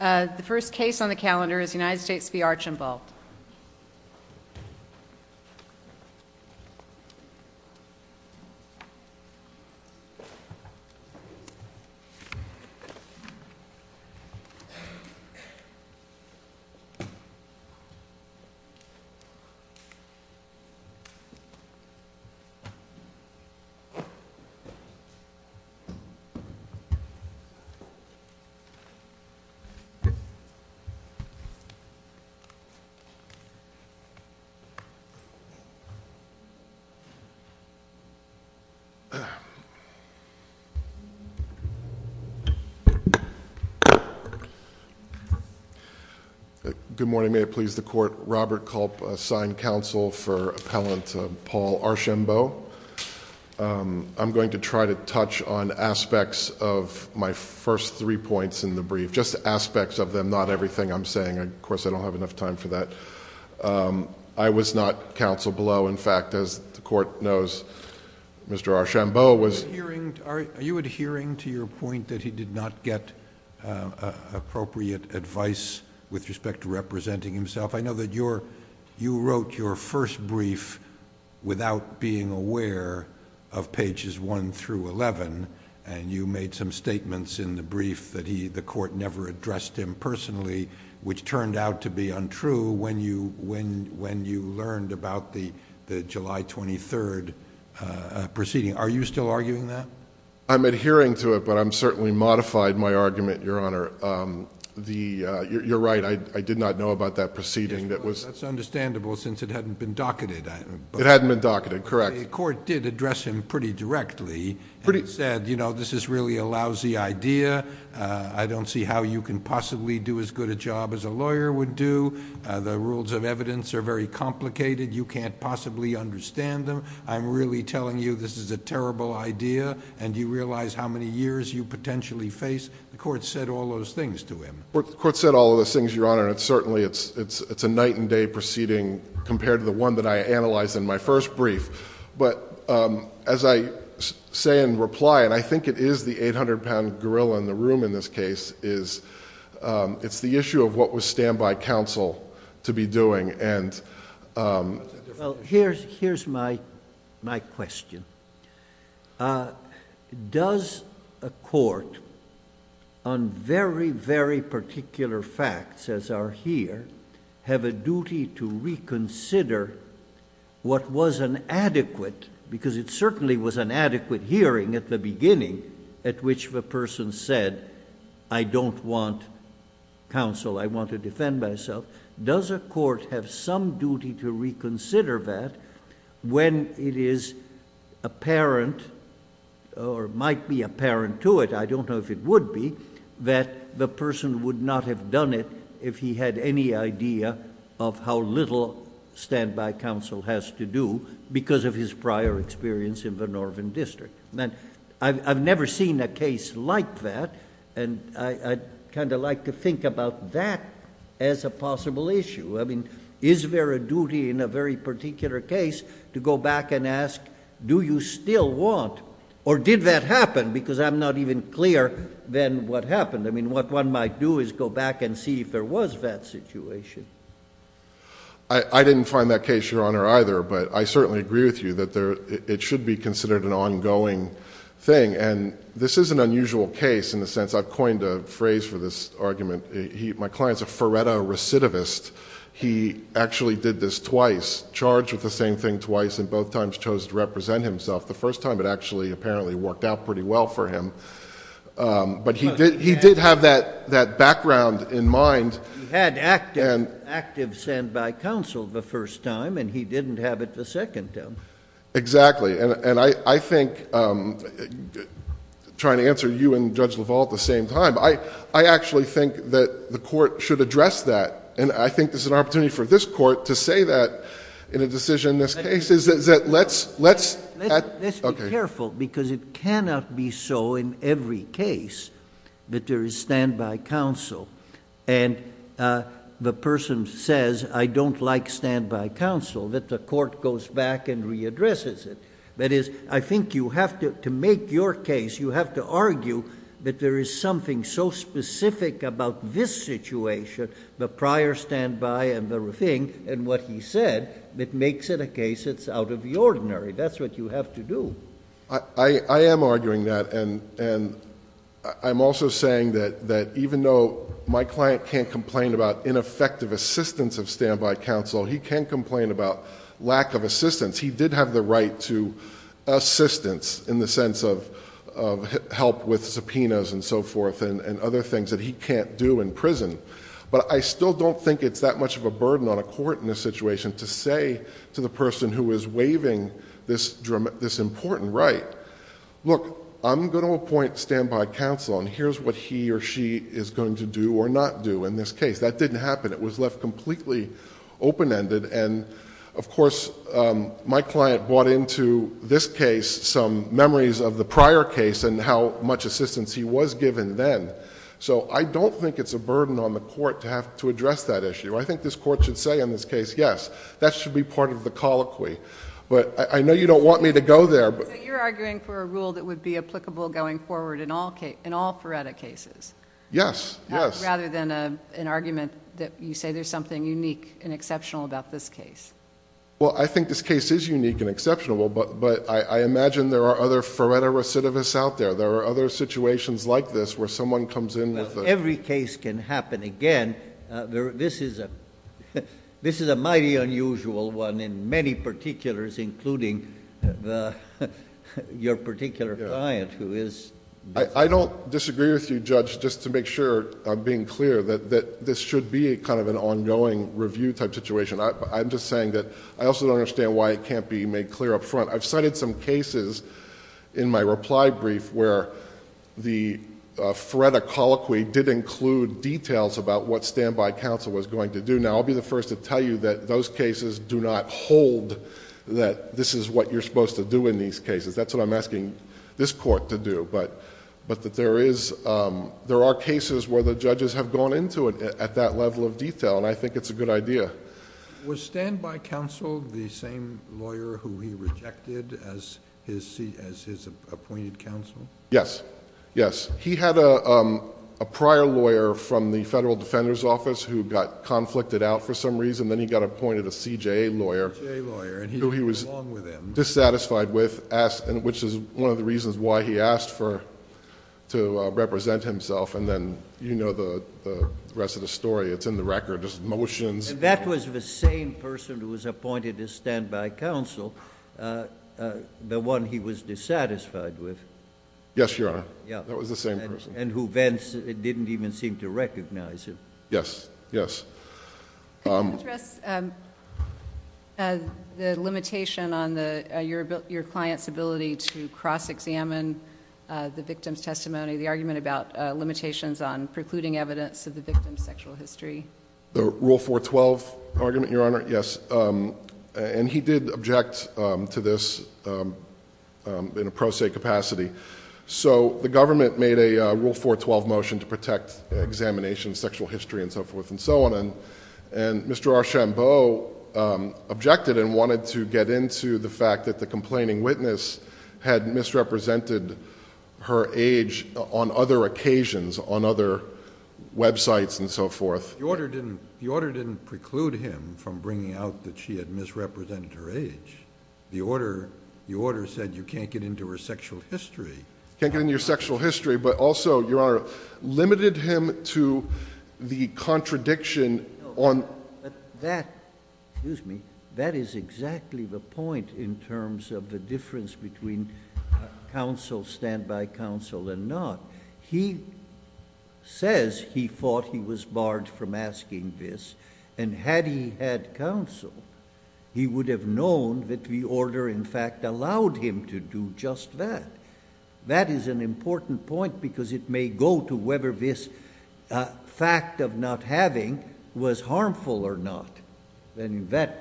The first case on the calendar is United States v. Archambault. Good morning. May it please the court, Robert Culp, assigned counsel for appellant Paul Archambault. I'm going to try to touch on aspects of my first three points in the brief. Just aspects of them, not everything I'm saying. Of course, I don't have enough time for that. I was not counsel below. In fact, as the court knows, Mr. Archambault was. Are you adhering to your point that he did not get appropriate advice with respect to representing himself? I know that you wrote your first brief without being aware of pages 1 through 11, and you made some statements in the brief that the court never addressed him personally, which turned out to be untrue when you learned about the July 23 proceeding. Are you still arguing that? I'm adhering to it, but I've certainly modified my argument, Your Honor. You're right. I did not know about that proceeding. That's understandable since it hadn't been docketed. It hadn't been docketed, correct. The court did address him pretty directly and said, you know, this is really a lousy idea. I don't see how you can possibly do as good a job as a lawyer would do. The rules of evidence are very complicated. You can't possibly understand them. I'm really telling you this is a terrible idea, and you realize how many years you potentially face. The court said all those things to him. The court said all those things, Your Honor, and certainly it's a night and day proceeding compared to the one that I analyzed in my first brief. But as I say in reply, and I think it is the 800-pound gorilla in the room in this case, it's the issue of what was standby counsel to be doing. Here's my question. Does a court, on very, very particular facts as are here, have a duty to reconsider what was an adequate, because it certainly was an adequate hearing at the beginning at which the person said, I don't want counsel. I want to defend myself. Does a court have some duty to reconsider that when it is apparent or might be apparent to it, I don't know if it would be, that the person would not have done it if he had any idea of how little standby counsel has to do because of his prior experience in the Northern District? I've never seen a case like that. I'd like to think about that as a possible issue. Is there a duty in a very particular case to go back and ask, do you still want, or did that happen because I'm not even clearer than what happened? What one might do is go back and see if there was that situation. I didn't find that case, Your Honor, either, but I certainly agree with you that it should be considered an ongoing thing. This is an unusual case in the sense I've coined a phrase for this argument. My client's a Feretta recidivist. He actually did this twice, charged with the same thing twice, and both times chose to represent himself. The first time it actually apparently worked out pretty well for him, but he did have that background in mind. He had active standby counsel the first time, and he didn't have it the second time. Exactly. I think trying to answer you and Judge LaValle at the same time, I actually think that the court should address that, and I think there's an opportunity for this court to say that in a decision in this case. Let's be careful because it cannot be so in every case that there is standby counsel, and the person says, I don't like standby counsel, that the court goes back and readdresses it. That is, I think you have to make your case, you have to argue that there is something so specific about this situation, the prior standby and the thing, and what he said, that makes it a case that's out of the ordinary. That's what you have to do. I am arguing that, and I'm also saying that even though my client can't complain about ineffective assistance of standby counsel, he can complain about lack of assistance. He did have the right to assistance in the sense of help with subpoenas and so forth and other things that he can't do in prison, but I still don't think it's that much of a burden on a court in this situation to say to the person who is waiving this important right, look, I'm going to appoint standby counsel, and here's what he or she is going to do or not do in this case. That didn't happen. It was left completely open-ended. Of course, my client brought into this case some memories of the prior case and how much assistance he was given then. I don't think it's a burden on the court to have to address that issue. I think this court should say in this case, yes, that should be part of the colloquy. I know you don't want me to go there... You're arguing for a rule that would be applicable going forward in all FREDA cases? Yes. Rather than an argument that you say there's something unique and exceptional about this case. Well, I think this case is unique and exceptional, but I imagine there are other FREDA recidivists out there. There are other situations like this where someone comes in with a... Every case can happen. Again, this is a mighty unusual one in many particulars, including your particular client who is... I don't disagree with you, Judge, just to make sure I'm being clear, that this should be an ongoing review type situation. I'm just saying that I also don't understand why it can't be made clear up front. I've cited some cases in my reply brief where the FREDA colloquy did include details about what standby counsel was going to do. Now, I'll be the first to tell you that those cases do not hold that this is what you're supposed to do in these cases. That's what I'm asking this court to do. There are cases where the judges have gone into it at that level of detail, and I think it's a good idea. Was standby counsel the same lawyer who he rejected as his appointed counsel? Yes. Yes. He had a prior lawyer from the Federal Defender's Office who got conflicted out for some reason, then he got appointed a CJA lawyer... A CJA lawyer, and he didn't get along with him. He was dissatisfied with, which is one of the reasons why he asked to represent himself, and then you know the rest of the story. It's in the record. There's motions. That was the same person who was appointed as standby counsel, the one he was dissatisfied with? Yes, Your Honor. That was the same person. And who then didn't even seem to recognize him. Yes. Yes. Can you address the limitation on your client's ability to cross-examine the victim's testimony, the argument about limitations on precluding evidence of the victim's sexual history? The Rule 412 argument, Your Honor? Yes. And he did object to this in a pro se capacity. The government made a Rule 412 motion to protect examination, sexual history, and so forth and so on, and Mr. Archambault objected and wanted to get into the fact that the complaining witness had misrepresented her age on other occasions, on other websites and so forth. The order didn't preclude him from bringing out that she had misrepresented her age. The order said you can't get into her sexual history. Can't get into your sexual history, but also, Your Honor, limited him to the contradiction on That is exactly the point in terms of the difference between counsel, standby counsel, and not. He says he thought he was barred from asking this, and had he had counsel, he would have known that the order, in fact, allowed him to do just that. That is an important point because it may go to whether this fact of not having was harmful or not. And that's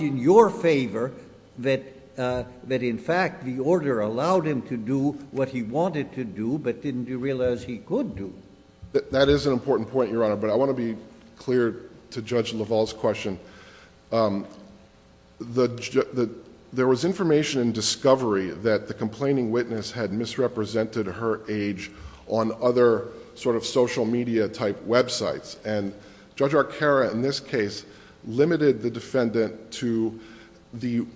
in your favor that, in fact, the order allowed him to do what he wanted to do, but didn't realize he could do. That is an important point, Your Honor, but I want to be clear to Judge LaValle's question. There was information in discovery that the complaining witness had misrepresented her age on other sort of social media type websites, and Judge Arcara, in this case, limited the defendant to the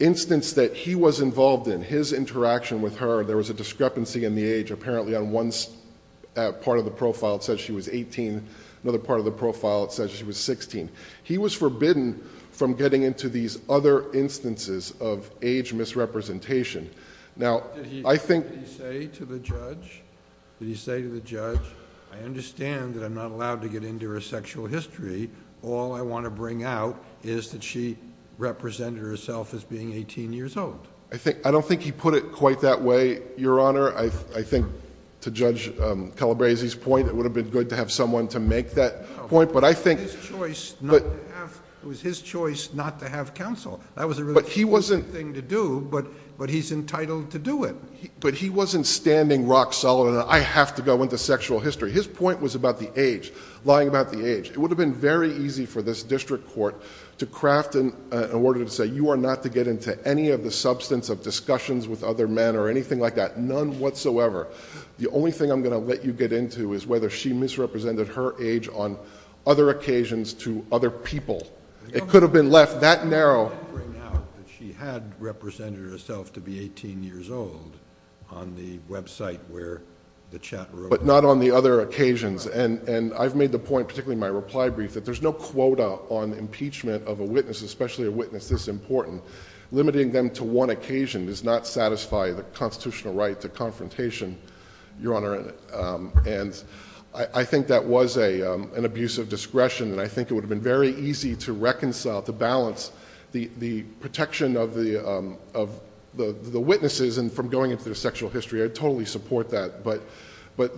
instance that he was involved in, his interaction with her. There was a discrepancy in the age. Apparently, on one part of the profile, it says she was eighteen. Another part of the profile, it says she was sixteen. He was forbidden from getting into these other instances of age misrepresentation. Now, I think... Did he say to the judge, I understand that I'm not allowed to get into her sexual history. All I want to bring out is that she represented herself as being eighteen years old. I don't think he put it quite that way, Your Honor. I think, to Judge Calabresi's point, it would have been good to have someone to make that point, but I think... It was his choice not to have counsel. That was a really stupid thing to do, but he's entitled to do it. But he wasn't standing rock solid on, I have to go into sexual history. His point was about the age, lying about the age. It would have been very easy for this district court to craft an order to say, you are not to get into any of the substance of discussions with other men or anything like that. None whatsoever. The only thing I'm going to let you get into is whether she misrepresented her age on other occasions to other people. It could have been left that narrow. She had represented herself to be eighteen years old on the website where the chat room... There's no quota on impeachment of a witness, especially a witness this important. Limiting them to one occasion does not satisfy the constitutional right to confrontation, Your Honor. I think that was an abuse of discretion. I think it would have been very easy to reconcile, to balance the protection of the witnesses and from going into their sexual history. I totally support that. But,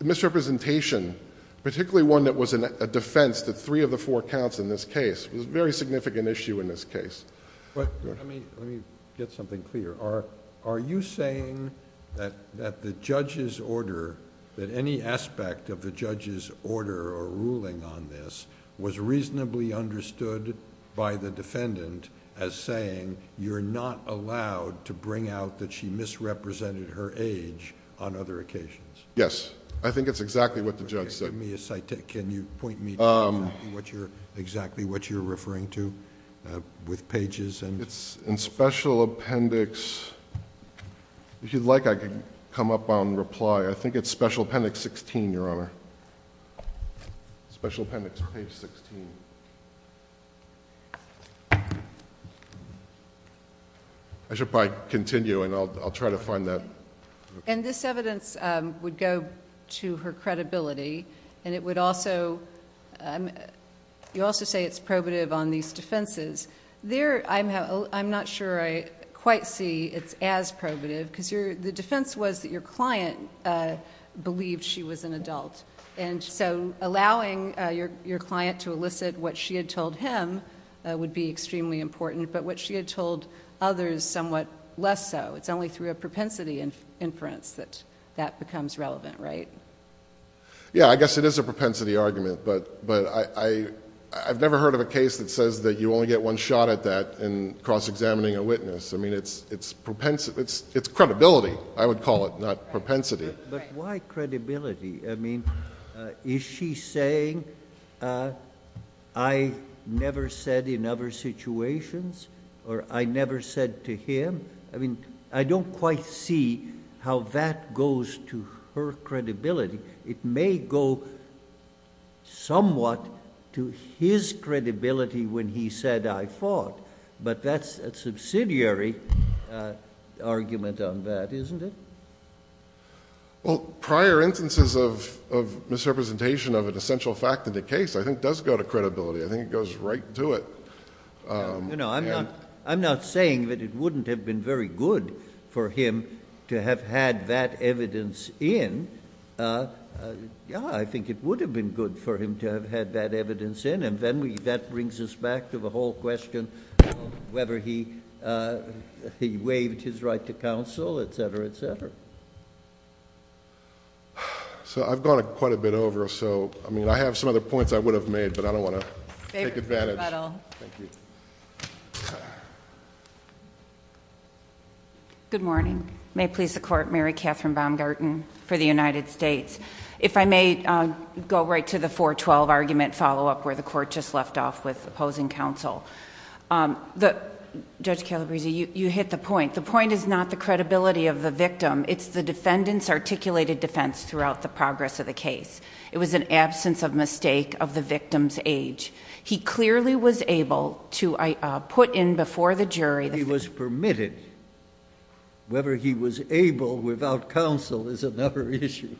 misrepresentation, particularly one that was a defense that three of the four counts in this case, was a very significant issue in this case. Let me get something clear. Are you saying that the judge's order, that any aspect of the judge's order or ruling on this, was reasonably understood by the defendant as saying you're not allowed to bring out that she misrepresented her age on other occasions? Yes. I think it's exactly what the judge said. Can you point me to exactly what you're referring to with pages and... It's in Special Appendix... If you'd like, I can come up on reply. I think it's Special Appendix 16, Your Honor. Special Appendix Page 16. I should probably continue, and I'll try to find that. This evidence would go to her credibility, and it would also... You also say it's probative on these defenses. I'm not sure I quite see it's as probative, because the defense was that your client believed she was an adult. Allowing your client to elicit what she had told him would be extremely important, but what she had told others, somewhat less so. It's only through a propensity inference that that becomes relevant, right? Yeah, I guess it is a propensity argument, but I've never heard of a case that says that you only get one shot at that in cross-examining a witness. I mean, it's credibility, I would call it, not propensity. But why credibility? I mean, is she saying, I never said in other situations, or I never said to him? I mean, I don't quite see how that goes to her credibility. It may go somewhat to his credibility when he said, I thought. But that's a subsidiary argument on that, isn't it? Well, prior instances of misrepresentation of an essential fact in the case, I think, does go to credibility. I think it goes right to it. I'm not saying that it wouldn't have been very good for him to have had that evidence in. Yeah, I think it would have been good for him to have had that evidence in. And then that brings us back to the whole question of whether he waived his right to counsel, et cetera, et cetera. So I've gone quite a bit over. So I mean, I have some other points I would have made, but I don't want to take advantage. Thank you. Good morning. May it please the Court. Mary Catherine Baumgarten for the United States. If I may go right to the 412 argument follow-up where the Court just left off with opposing counsel. Judge Calabresi, you hit the point. The point is not the credibility of the victim. It's the defendant's articulated defense throughout the progress of the case. It was an absence of mistake of the victim's age. He clearly was able to put in before the jury the fact that he was permitted. Whether he was able without counsel is another issue.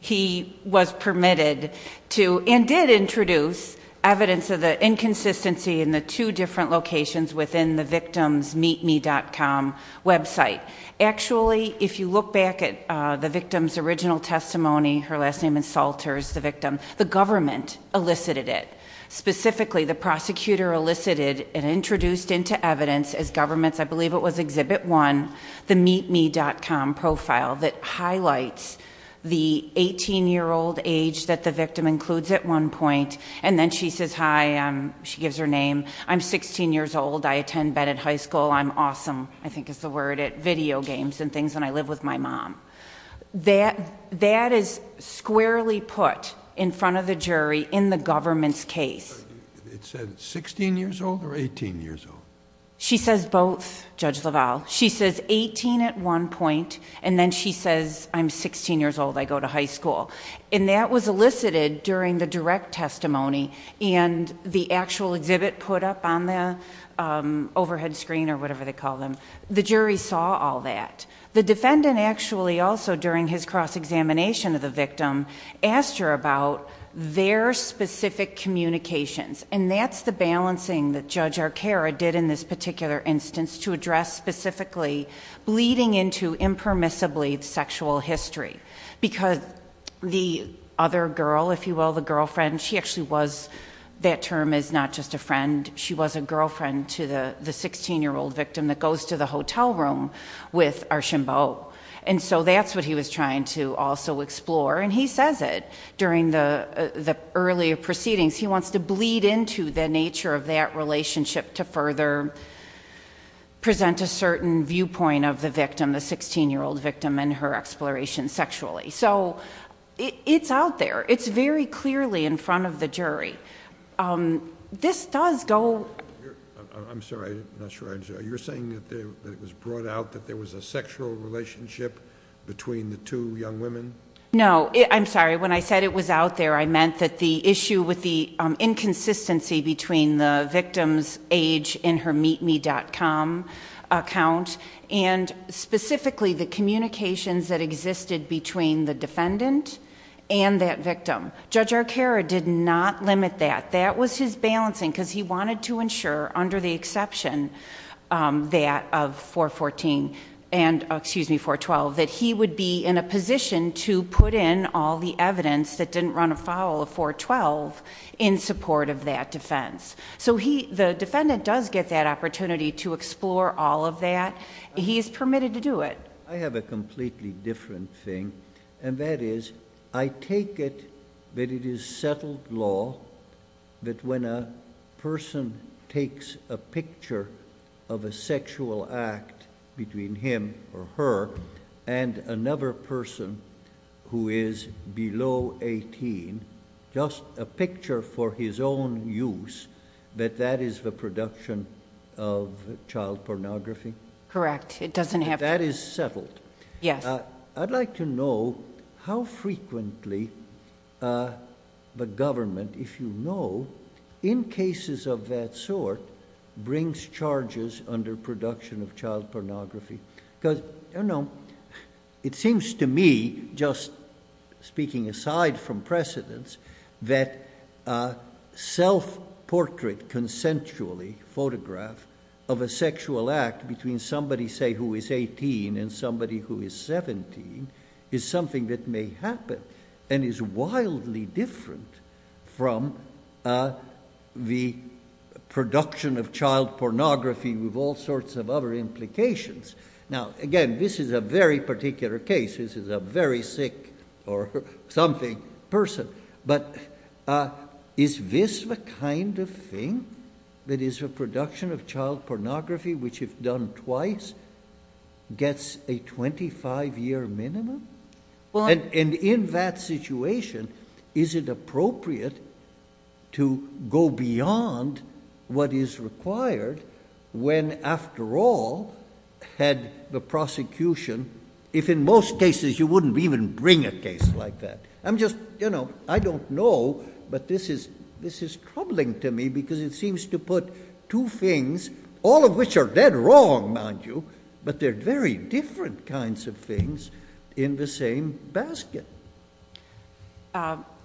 He was permitted to and did introduce evidence of the inconsistency in the two different locations within the victim's meetme.com website. Actually, if you look back at the victim's original testimony, her last name is Salters, the victim, the government elicited it. Specifically, the prosecutor elicited and introduced into evidence as governments, I believe it was Exhibit 1, the meetme.com profile that highlights the 18-year-old age that the victim includes at one point. And then she says, hi, she gives her name. I'm 16 years old. I attend Bennett High School. I'm awesome, I think is the word, at video games and things, and I live with my mom. That is squarely put in front of the jury in the government's case. It said 16 years old or 18 years old? She says both, Judge LaValle. She says 18 at one point, and then she says, I'm 16 years old. I go to high school. And that was elicited during the direct testimony, and the actual exhibit put up on the overhead screen or whatever they call them. The jury saw all that. The defendant actually also, during his cross-examination of the victim, asked her about their specific communications. And that's the balancing that Judge Arcaro did in this particular instance to address specifically bleeding into impermissibly sexual history. Because the other girl, if you will, the girlfriend, she actually was, that term is not just a friend. She was a girlfriend to the 16-year-old victim that goes to the hotel room with Archambault. And so that's what he was trying to also explore. And he says it during the earlier proceedings. He wants to bleed into the nature of that relationship to further present a certain viewpoint of the victim, the 16-year-old victim, and her exploration sexually. So it's out there. It's very clearly in front of the jury. This does go. I'm sorry. I'm not sure. You're saying that it was brought out that there was a sexual relationship between the two young women? No. I'm sorry. When I said it was out there, I meant that the issue with the inconsistency between the victim's age in her meetme.com account and specifically the communications that existed between the defendant and that victim. Judge Arcaro did not limit that. That was his balancing because he wanted to ensure under the exception that of 414 and, excuse me, 412, that he would be in a position to put in all the evidence that didn't run afoul of 412 in support of that defense. So the defendant does get that opportunity to explore all of that. He is permitted to do it. I have a completely different thing, and that is I take it that it is settled law that when a person takes a picture of a sexual act between him or her and another person who is below 18, just a picture for his own use, that that is the production of child pornography? Correct. It doesn't have to be. That is settled? Yes. I'd like to know how frequently the government, if you know, in cases of that sort, brings charges under production of child pornography. It seems to me, just speaking aside from precedence, that self-portrait consensually photograph of a sexual act between somebody, say, who is 18 and somebody who is 17 is something that may happen and is wildly different from the production of child pornography with all sorts of other implications. Now, again, this is a very particular case. This is a very sick or something person. But is this the kind of thing that is a production of child pornography which, if done twice, gets a 25-year minimum? And in that situation, is it appropriate to go beyond what is required when, after all, had the prosecution, if in most cases you wouldn't even bring a case like that? I'm just, you know, I don't know, but this is troubling to me because it seems to put two things, all of which are dead wrong, mind you, but they're very different kinds of things, in the same basket.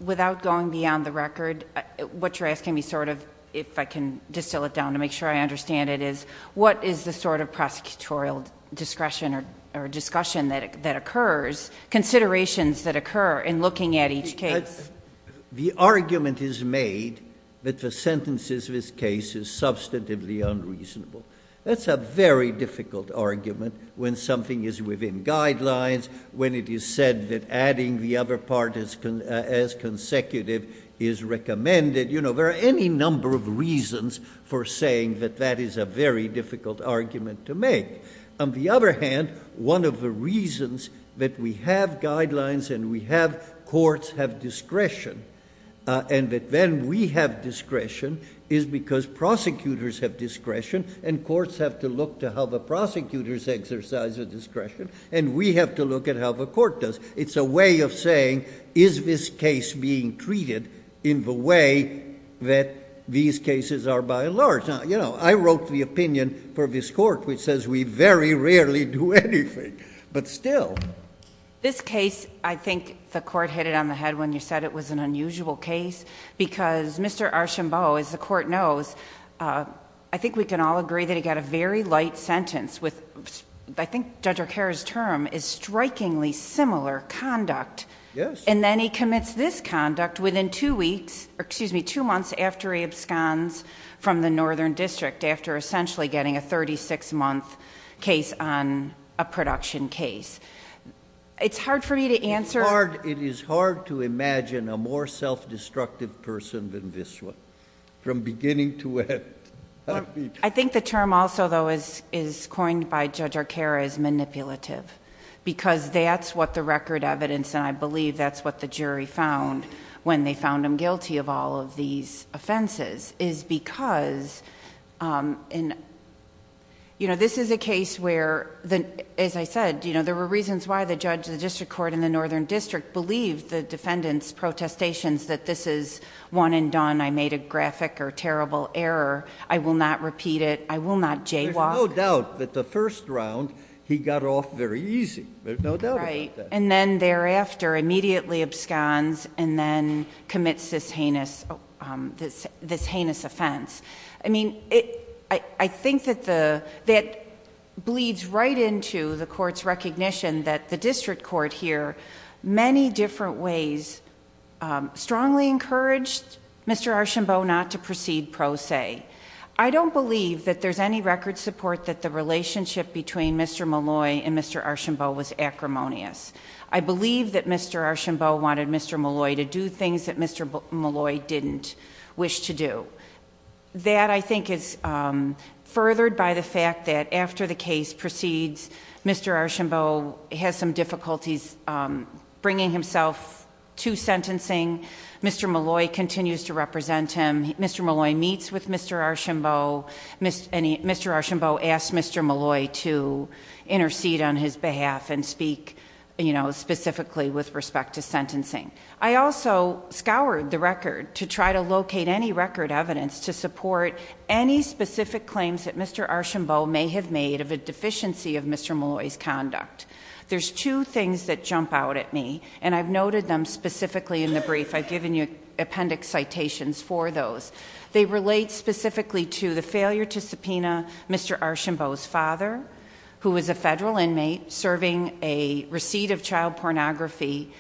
Without going beyond the record, what you're asking me, sort of, if I can distill it down to make sure I understand it is, what is the sort of prosecutorial discretion or discussion that occurs, considerations that occur in looking at each case? The argument is made that the sentences of this case is substantively unreasonable. That's a very difficult argument when something is within guidelines, when it is said that adding the other part as consecutive is recommended. You know, there are any number of reasons for saying that that is a very difficult argument to make. On the other hand, one of the reasons that we have guidelines and we have courts have discretion, and that then we have discretion, is because prosecutors have discretion and courts have to look to how the prosecutors exercise their discretion, and we have to look at how the court does. It's a way of saying, is this case being treated in the way that these cases are by and large? Now, you know, I wrote the opinion for this court, which says we very rarely do anything, but still. This case, I think the court hit it on the head when you said it was an unusual case, because Mr. Archambault, as the court knows, I think we can all agree that he got a very light sentence with, I think Judge Arcaro's term, is strikingly similar conduct. And then he commits this conduct within two weeks, or excuse me, two months after he absconds from the Northern District, after essentially getting a 36-month case on a production case. It's hard for me to answer... It's hard. It is hard to imagine a more self-destructive person than this one, from beginning to end. I think the term also, though, is coined by Judge Arcaro as manipulative, because that's what the record evidence, and I believe that's what the jury found when they found him guilty of all of these offenses, is because... You know, this is a case where, as I said, there were reasons why the judge, the district court, and the Northern District believed the defendant's protestations that this is one and done, I made a graphic or terrible error, I will not repeat it, I will not jaywalk. There's no doubt that the first round, he got off very easy. There's no doubt about that. And then thereafter, immediately absconds and then commits this heinous offense. I mean, I think that that bleeds right into the court's recognition that the district court here, many different ways, strongly encouraged Mr. Archambault not to proceed pro se. I don't believe that there's any record support that the relationship between Mr. Molloy and Mr. Archambault was acrimonious. I believe that Mr. Archambault wanted Mr. Molloy to do things that Mr. Molloy didn't wish to do. That, I think, is furthered by the fact that after the case proceeds, Mr. Archambault has some difficulties bringing himself to sentencing. Mr. Molloy continues to represent him. Mr. Molloy meets with Mr. Archambault. Mr. Archambault asks Mr. Molloy to intercede on his behalf and speak specifically with respect to sentencing. I also scoured the record to try to locate any record evidence to support any specific claims that Mr. Archambault may have made of a deficiency of Mr. Molloy's conduct. There's two things that jump out at me, and I've noted them specifically in the brief. I've given you appendix citations for those. They relate specifically to the failure to subpoena Mr. Archambault's father, who was a federal inmate serving a receipt of child pornography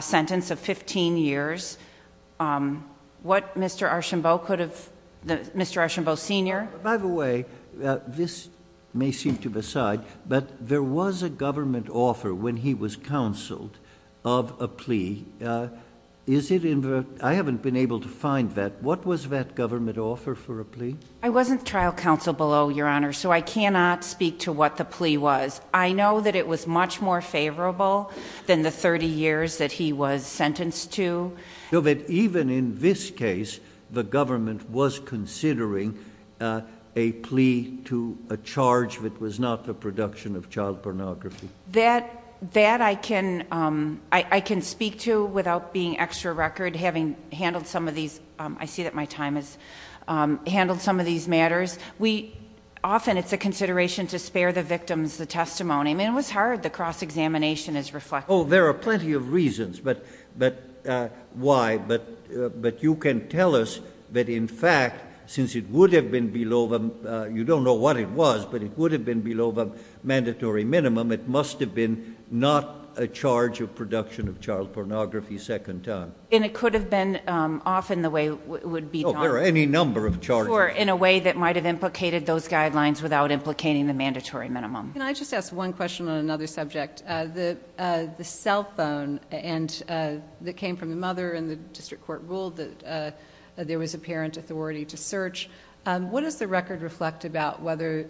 sentence of 15 years. What Mr. Archambault could have, Mr. Archambault Sr. By the way, this may seem to the side, but there was a government offer when he was counseled of a plea. I haven't been able to find that. What was that government offer for a plea? I wasn't trial counsel below, Your Honor, so I cannot speak to what the plea was. I know that it was much more favorable than the 30 years that he was sentenced to. So that even in this case, the government was considering a plea to a charge that was not the production of child pornography? That I can speak to without being extra record, having handled some of these. I see that my time has handled some of these matters. Often it's a consideration to spare the victims the testimony. I mean, it was hard. The cross-examination is reflective. Oh, there are plenty of reasons why, but you can tell us that in fact, since it would have been below, you don't know what it was, but it would have been below the mandatory minimum, it must have been not a charge of production of child pornography second time. And it could have been often the way it would be done. There are any number of charges. Or in a way that might have implicated those guidelines without implicating the mandatory minimum. Can I just ask one question on another subject? The cell phone that came from the mother and the district court ruled that there was apparent authority to search. What does the record reflect about whether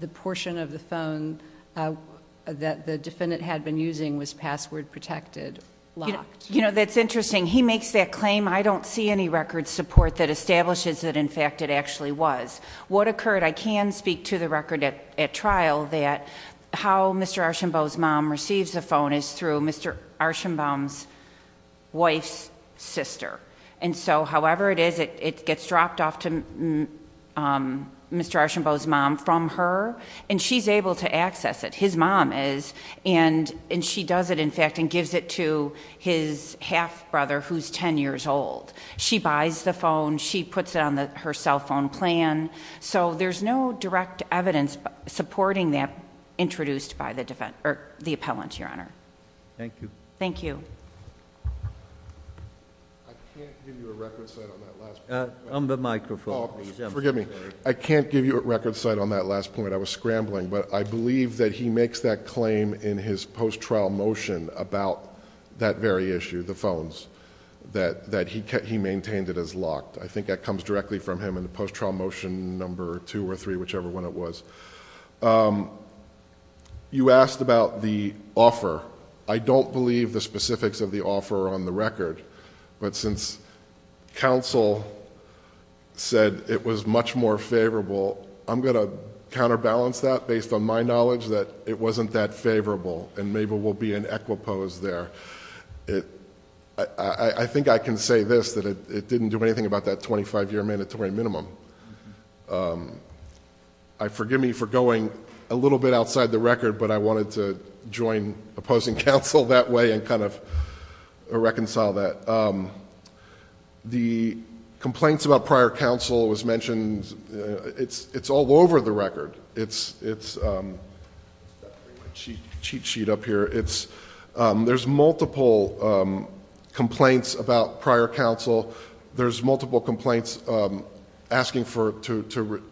the portion of the phone that the defendant had been using was password protected, locked? You know, that's interesting. He makes that claim. I don't see any record support that establishes that, in fact, it actually was. What occurred, I can speak to the record at trial that how Mr. Archambault's mom receives the phone is through Mr. Archambault's wife's sister. And so, however it is, it gets dropped off to Mr. Archambault's mom from her, and she's able to access it. His mom is. And she does it, in fact, and gives it to his half-brother who's ten years old. She buys the phone. She puts it on her cell phone plan. So, there's no direct evidence supporting that introduced by the defendant, or the appellant, Your Honor. Thank you. Thank you. I can't give you a record set on that last point. On the microphone, please. Forgive me. I can't give you a record set on that last point. I was scrambling. But I believe that he makes that claim in his post-trial motion about that very issue, the phones, that he maintained it as locked. I think that comes directly from him in the post-trial motion number two or three, whichever one it was. You asked about the offer. I don't believe the specifics of the offer are on the record. But since counsel said it was much more favorable, I'm going to counterbalance that based on my knowledge that it wasn't that favorable. And maybe we'll be in equipoise there. I think I can say this, that it didn't do anything about that 25-year mandatory minimum. Forgive me for going a little bit outside the record, but I wanted to join opposing counsel that way and kind of reconcile that. The complaints about prior counsel was mentioned. It's all over the record. It's... I'm just going to bring my cheat sheet up here. There's multiple complaints about prior counsel. There's multiple complaints asking to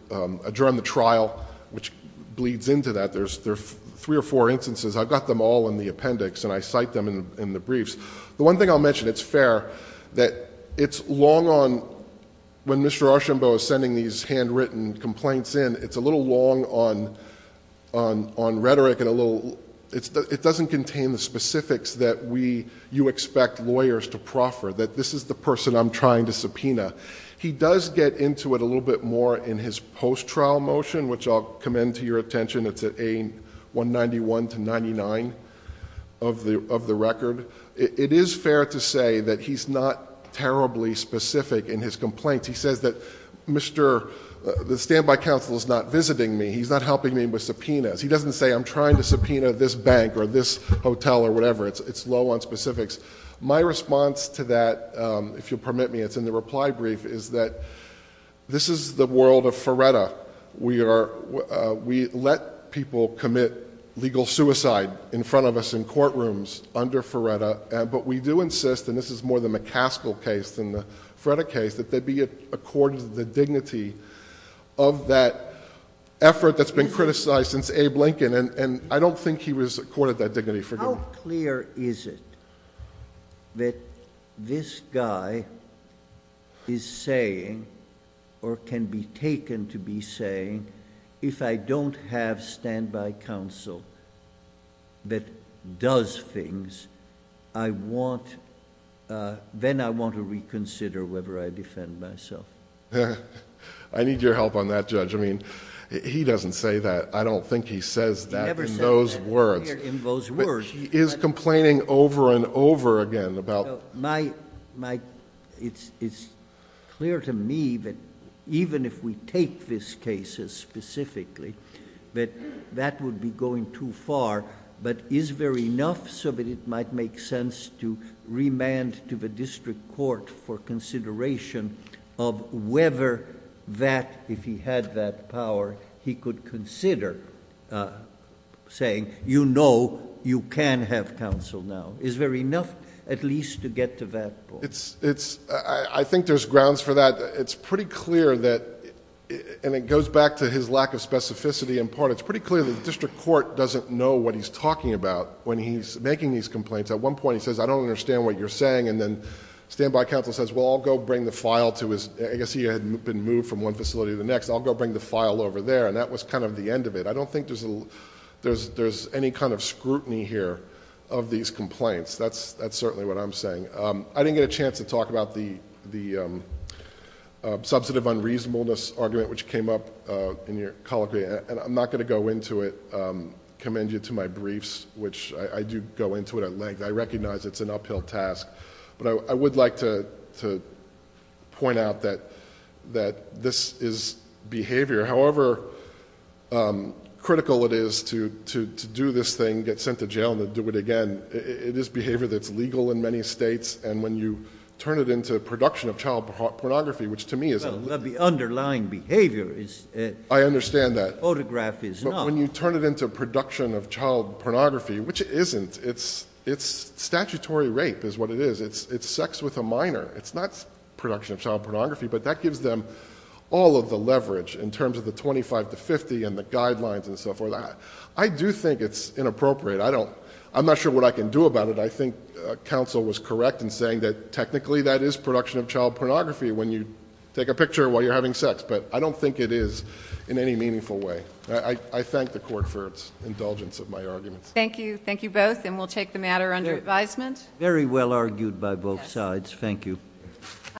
adjourn the trial, which bleeds into that. There's three or four instances. I've got them all in the appendix, and I cite them in the briefs. The one thing I'll mention, it's fair, that it's long on... When Mr. Archambeau is sending these handwritten complaints in, it's a little long on rhetoric and a little... I'm trying to subpoena. He does get into it a little bit more in his post-trial motion, which I'll commend to your attention. It's at A191-99 of the record. It is fair to say that he's not terribly specific in his complaints. He says that the standby counsel is not visiting me. He's not helping me with subpoenas. He doesn't say, I'm trying to subpoena this bank or this hotel or whatever. It's low on specifics. My response to that, if you'll permit me, it's in the reply brief, is that this is the world of Feretta. We let people commit legal suicide in front of us in courtrooms under Feretta, but we do insist... and this is more the McCaskill case than the Feretta case... that they be accorded the dignity of that effort that's been criticized since Abe Lincoln. I don't think he was accorded that dignity, forgive me. How clear is it that this guy is saying or can be taken to be saying, if I don't have standby counsel that does things, then I want to reconsider whether I defend myself? I need your help on that, Judge. He doesn't say that. I don't think he says that in those words. He is complaining over and over again about... It's clear to me that even if we take this case as specifically, that that would be going too far, but is there enough so that it might make sense to remand to the district court for consideration of whether that... No, you can have counsel now. Is there enough at least to get to that point? I think there's grounds for that. It's pretty clear that... and it goes back to his lack of specificity in part. It's pretty clear that the district court doesn't know what he's talking about when he's making these complaints. At one point he says, I don't understand what you're saying, and then standby counsel says, well, I'll go bring the file to his... I guess he had been moved from one facility to the next. I'll go bring the file over there, and that was kind of the end of it. I don't think there's any kind of scrutiny here of these complaints. That's certainly what I'm saying. I didn't get a chance to talk about the substantive unreasonableness argument which came up in your colloquy, and I'm not going to go into it. I commend you to my briefs, which I do go into at length. I recognize it's an uphill task, but I would like to point out that this is behavior. However critical it is to do this thing, get sent to jail and then do it again, it is behavior that's legal in many states, and when you turn it into production of child pornography, which to me is... Well, the underlying behavior is... I understand that.... photograph is not. But when you turn it into production of child pornography, which it isn't, it's statutory rape is what it is. It's sex with a minor. It's not production of child pornography, but that gives them all of the leverage in terms of the 25 to 50 and the guidelines and so forth. I do think it's inappropriate. I'm not sure what I can do about it. I think counsel was correct in saying that technically that is production of child pornography when you take a picture while you're having sex, but I don't think it is in any meaningful way. I thank the court for its indulgence of my arguments. Thank you. Thank you both, and we'll take the matter under advisement. Very well argued by both sides. Thank you.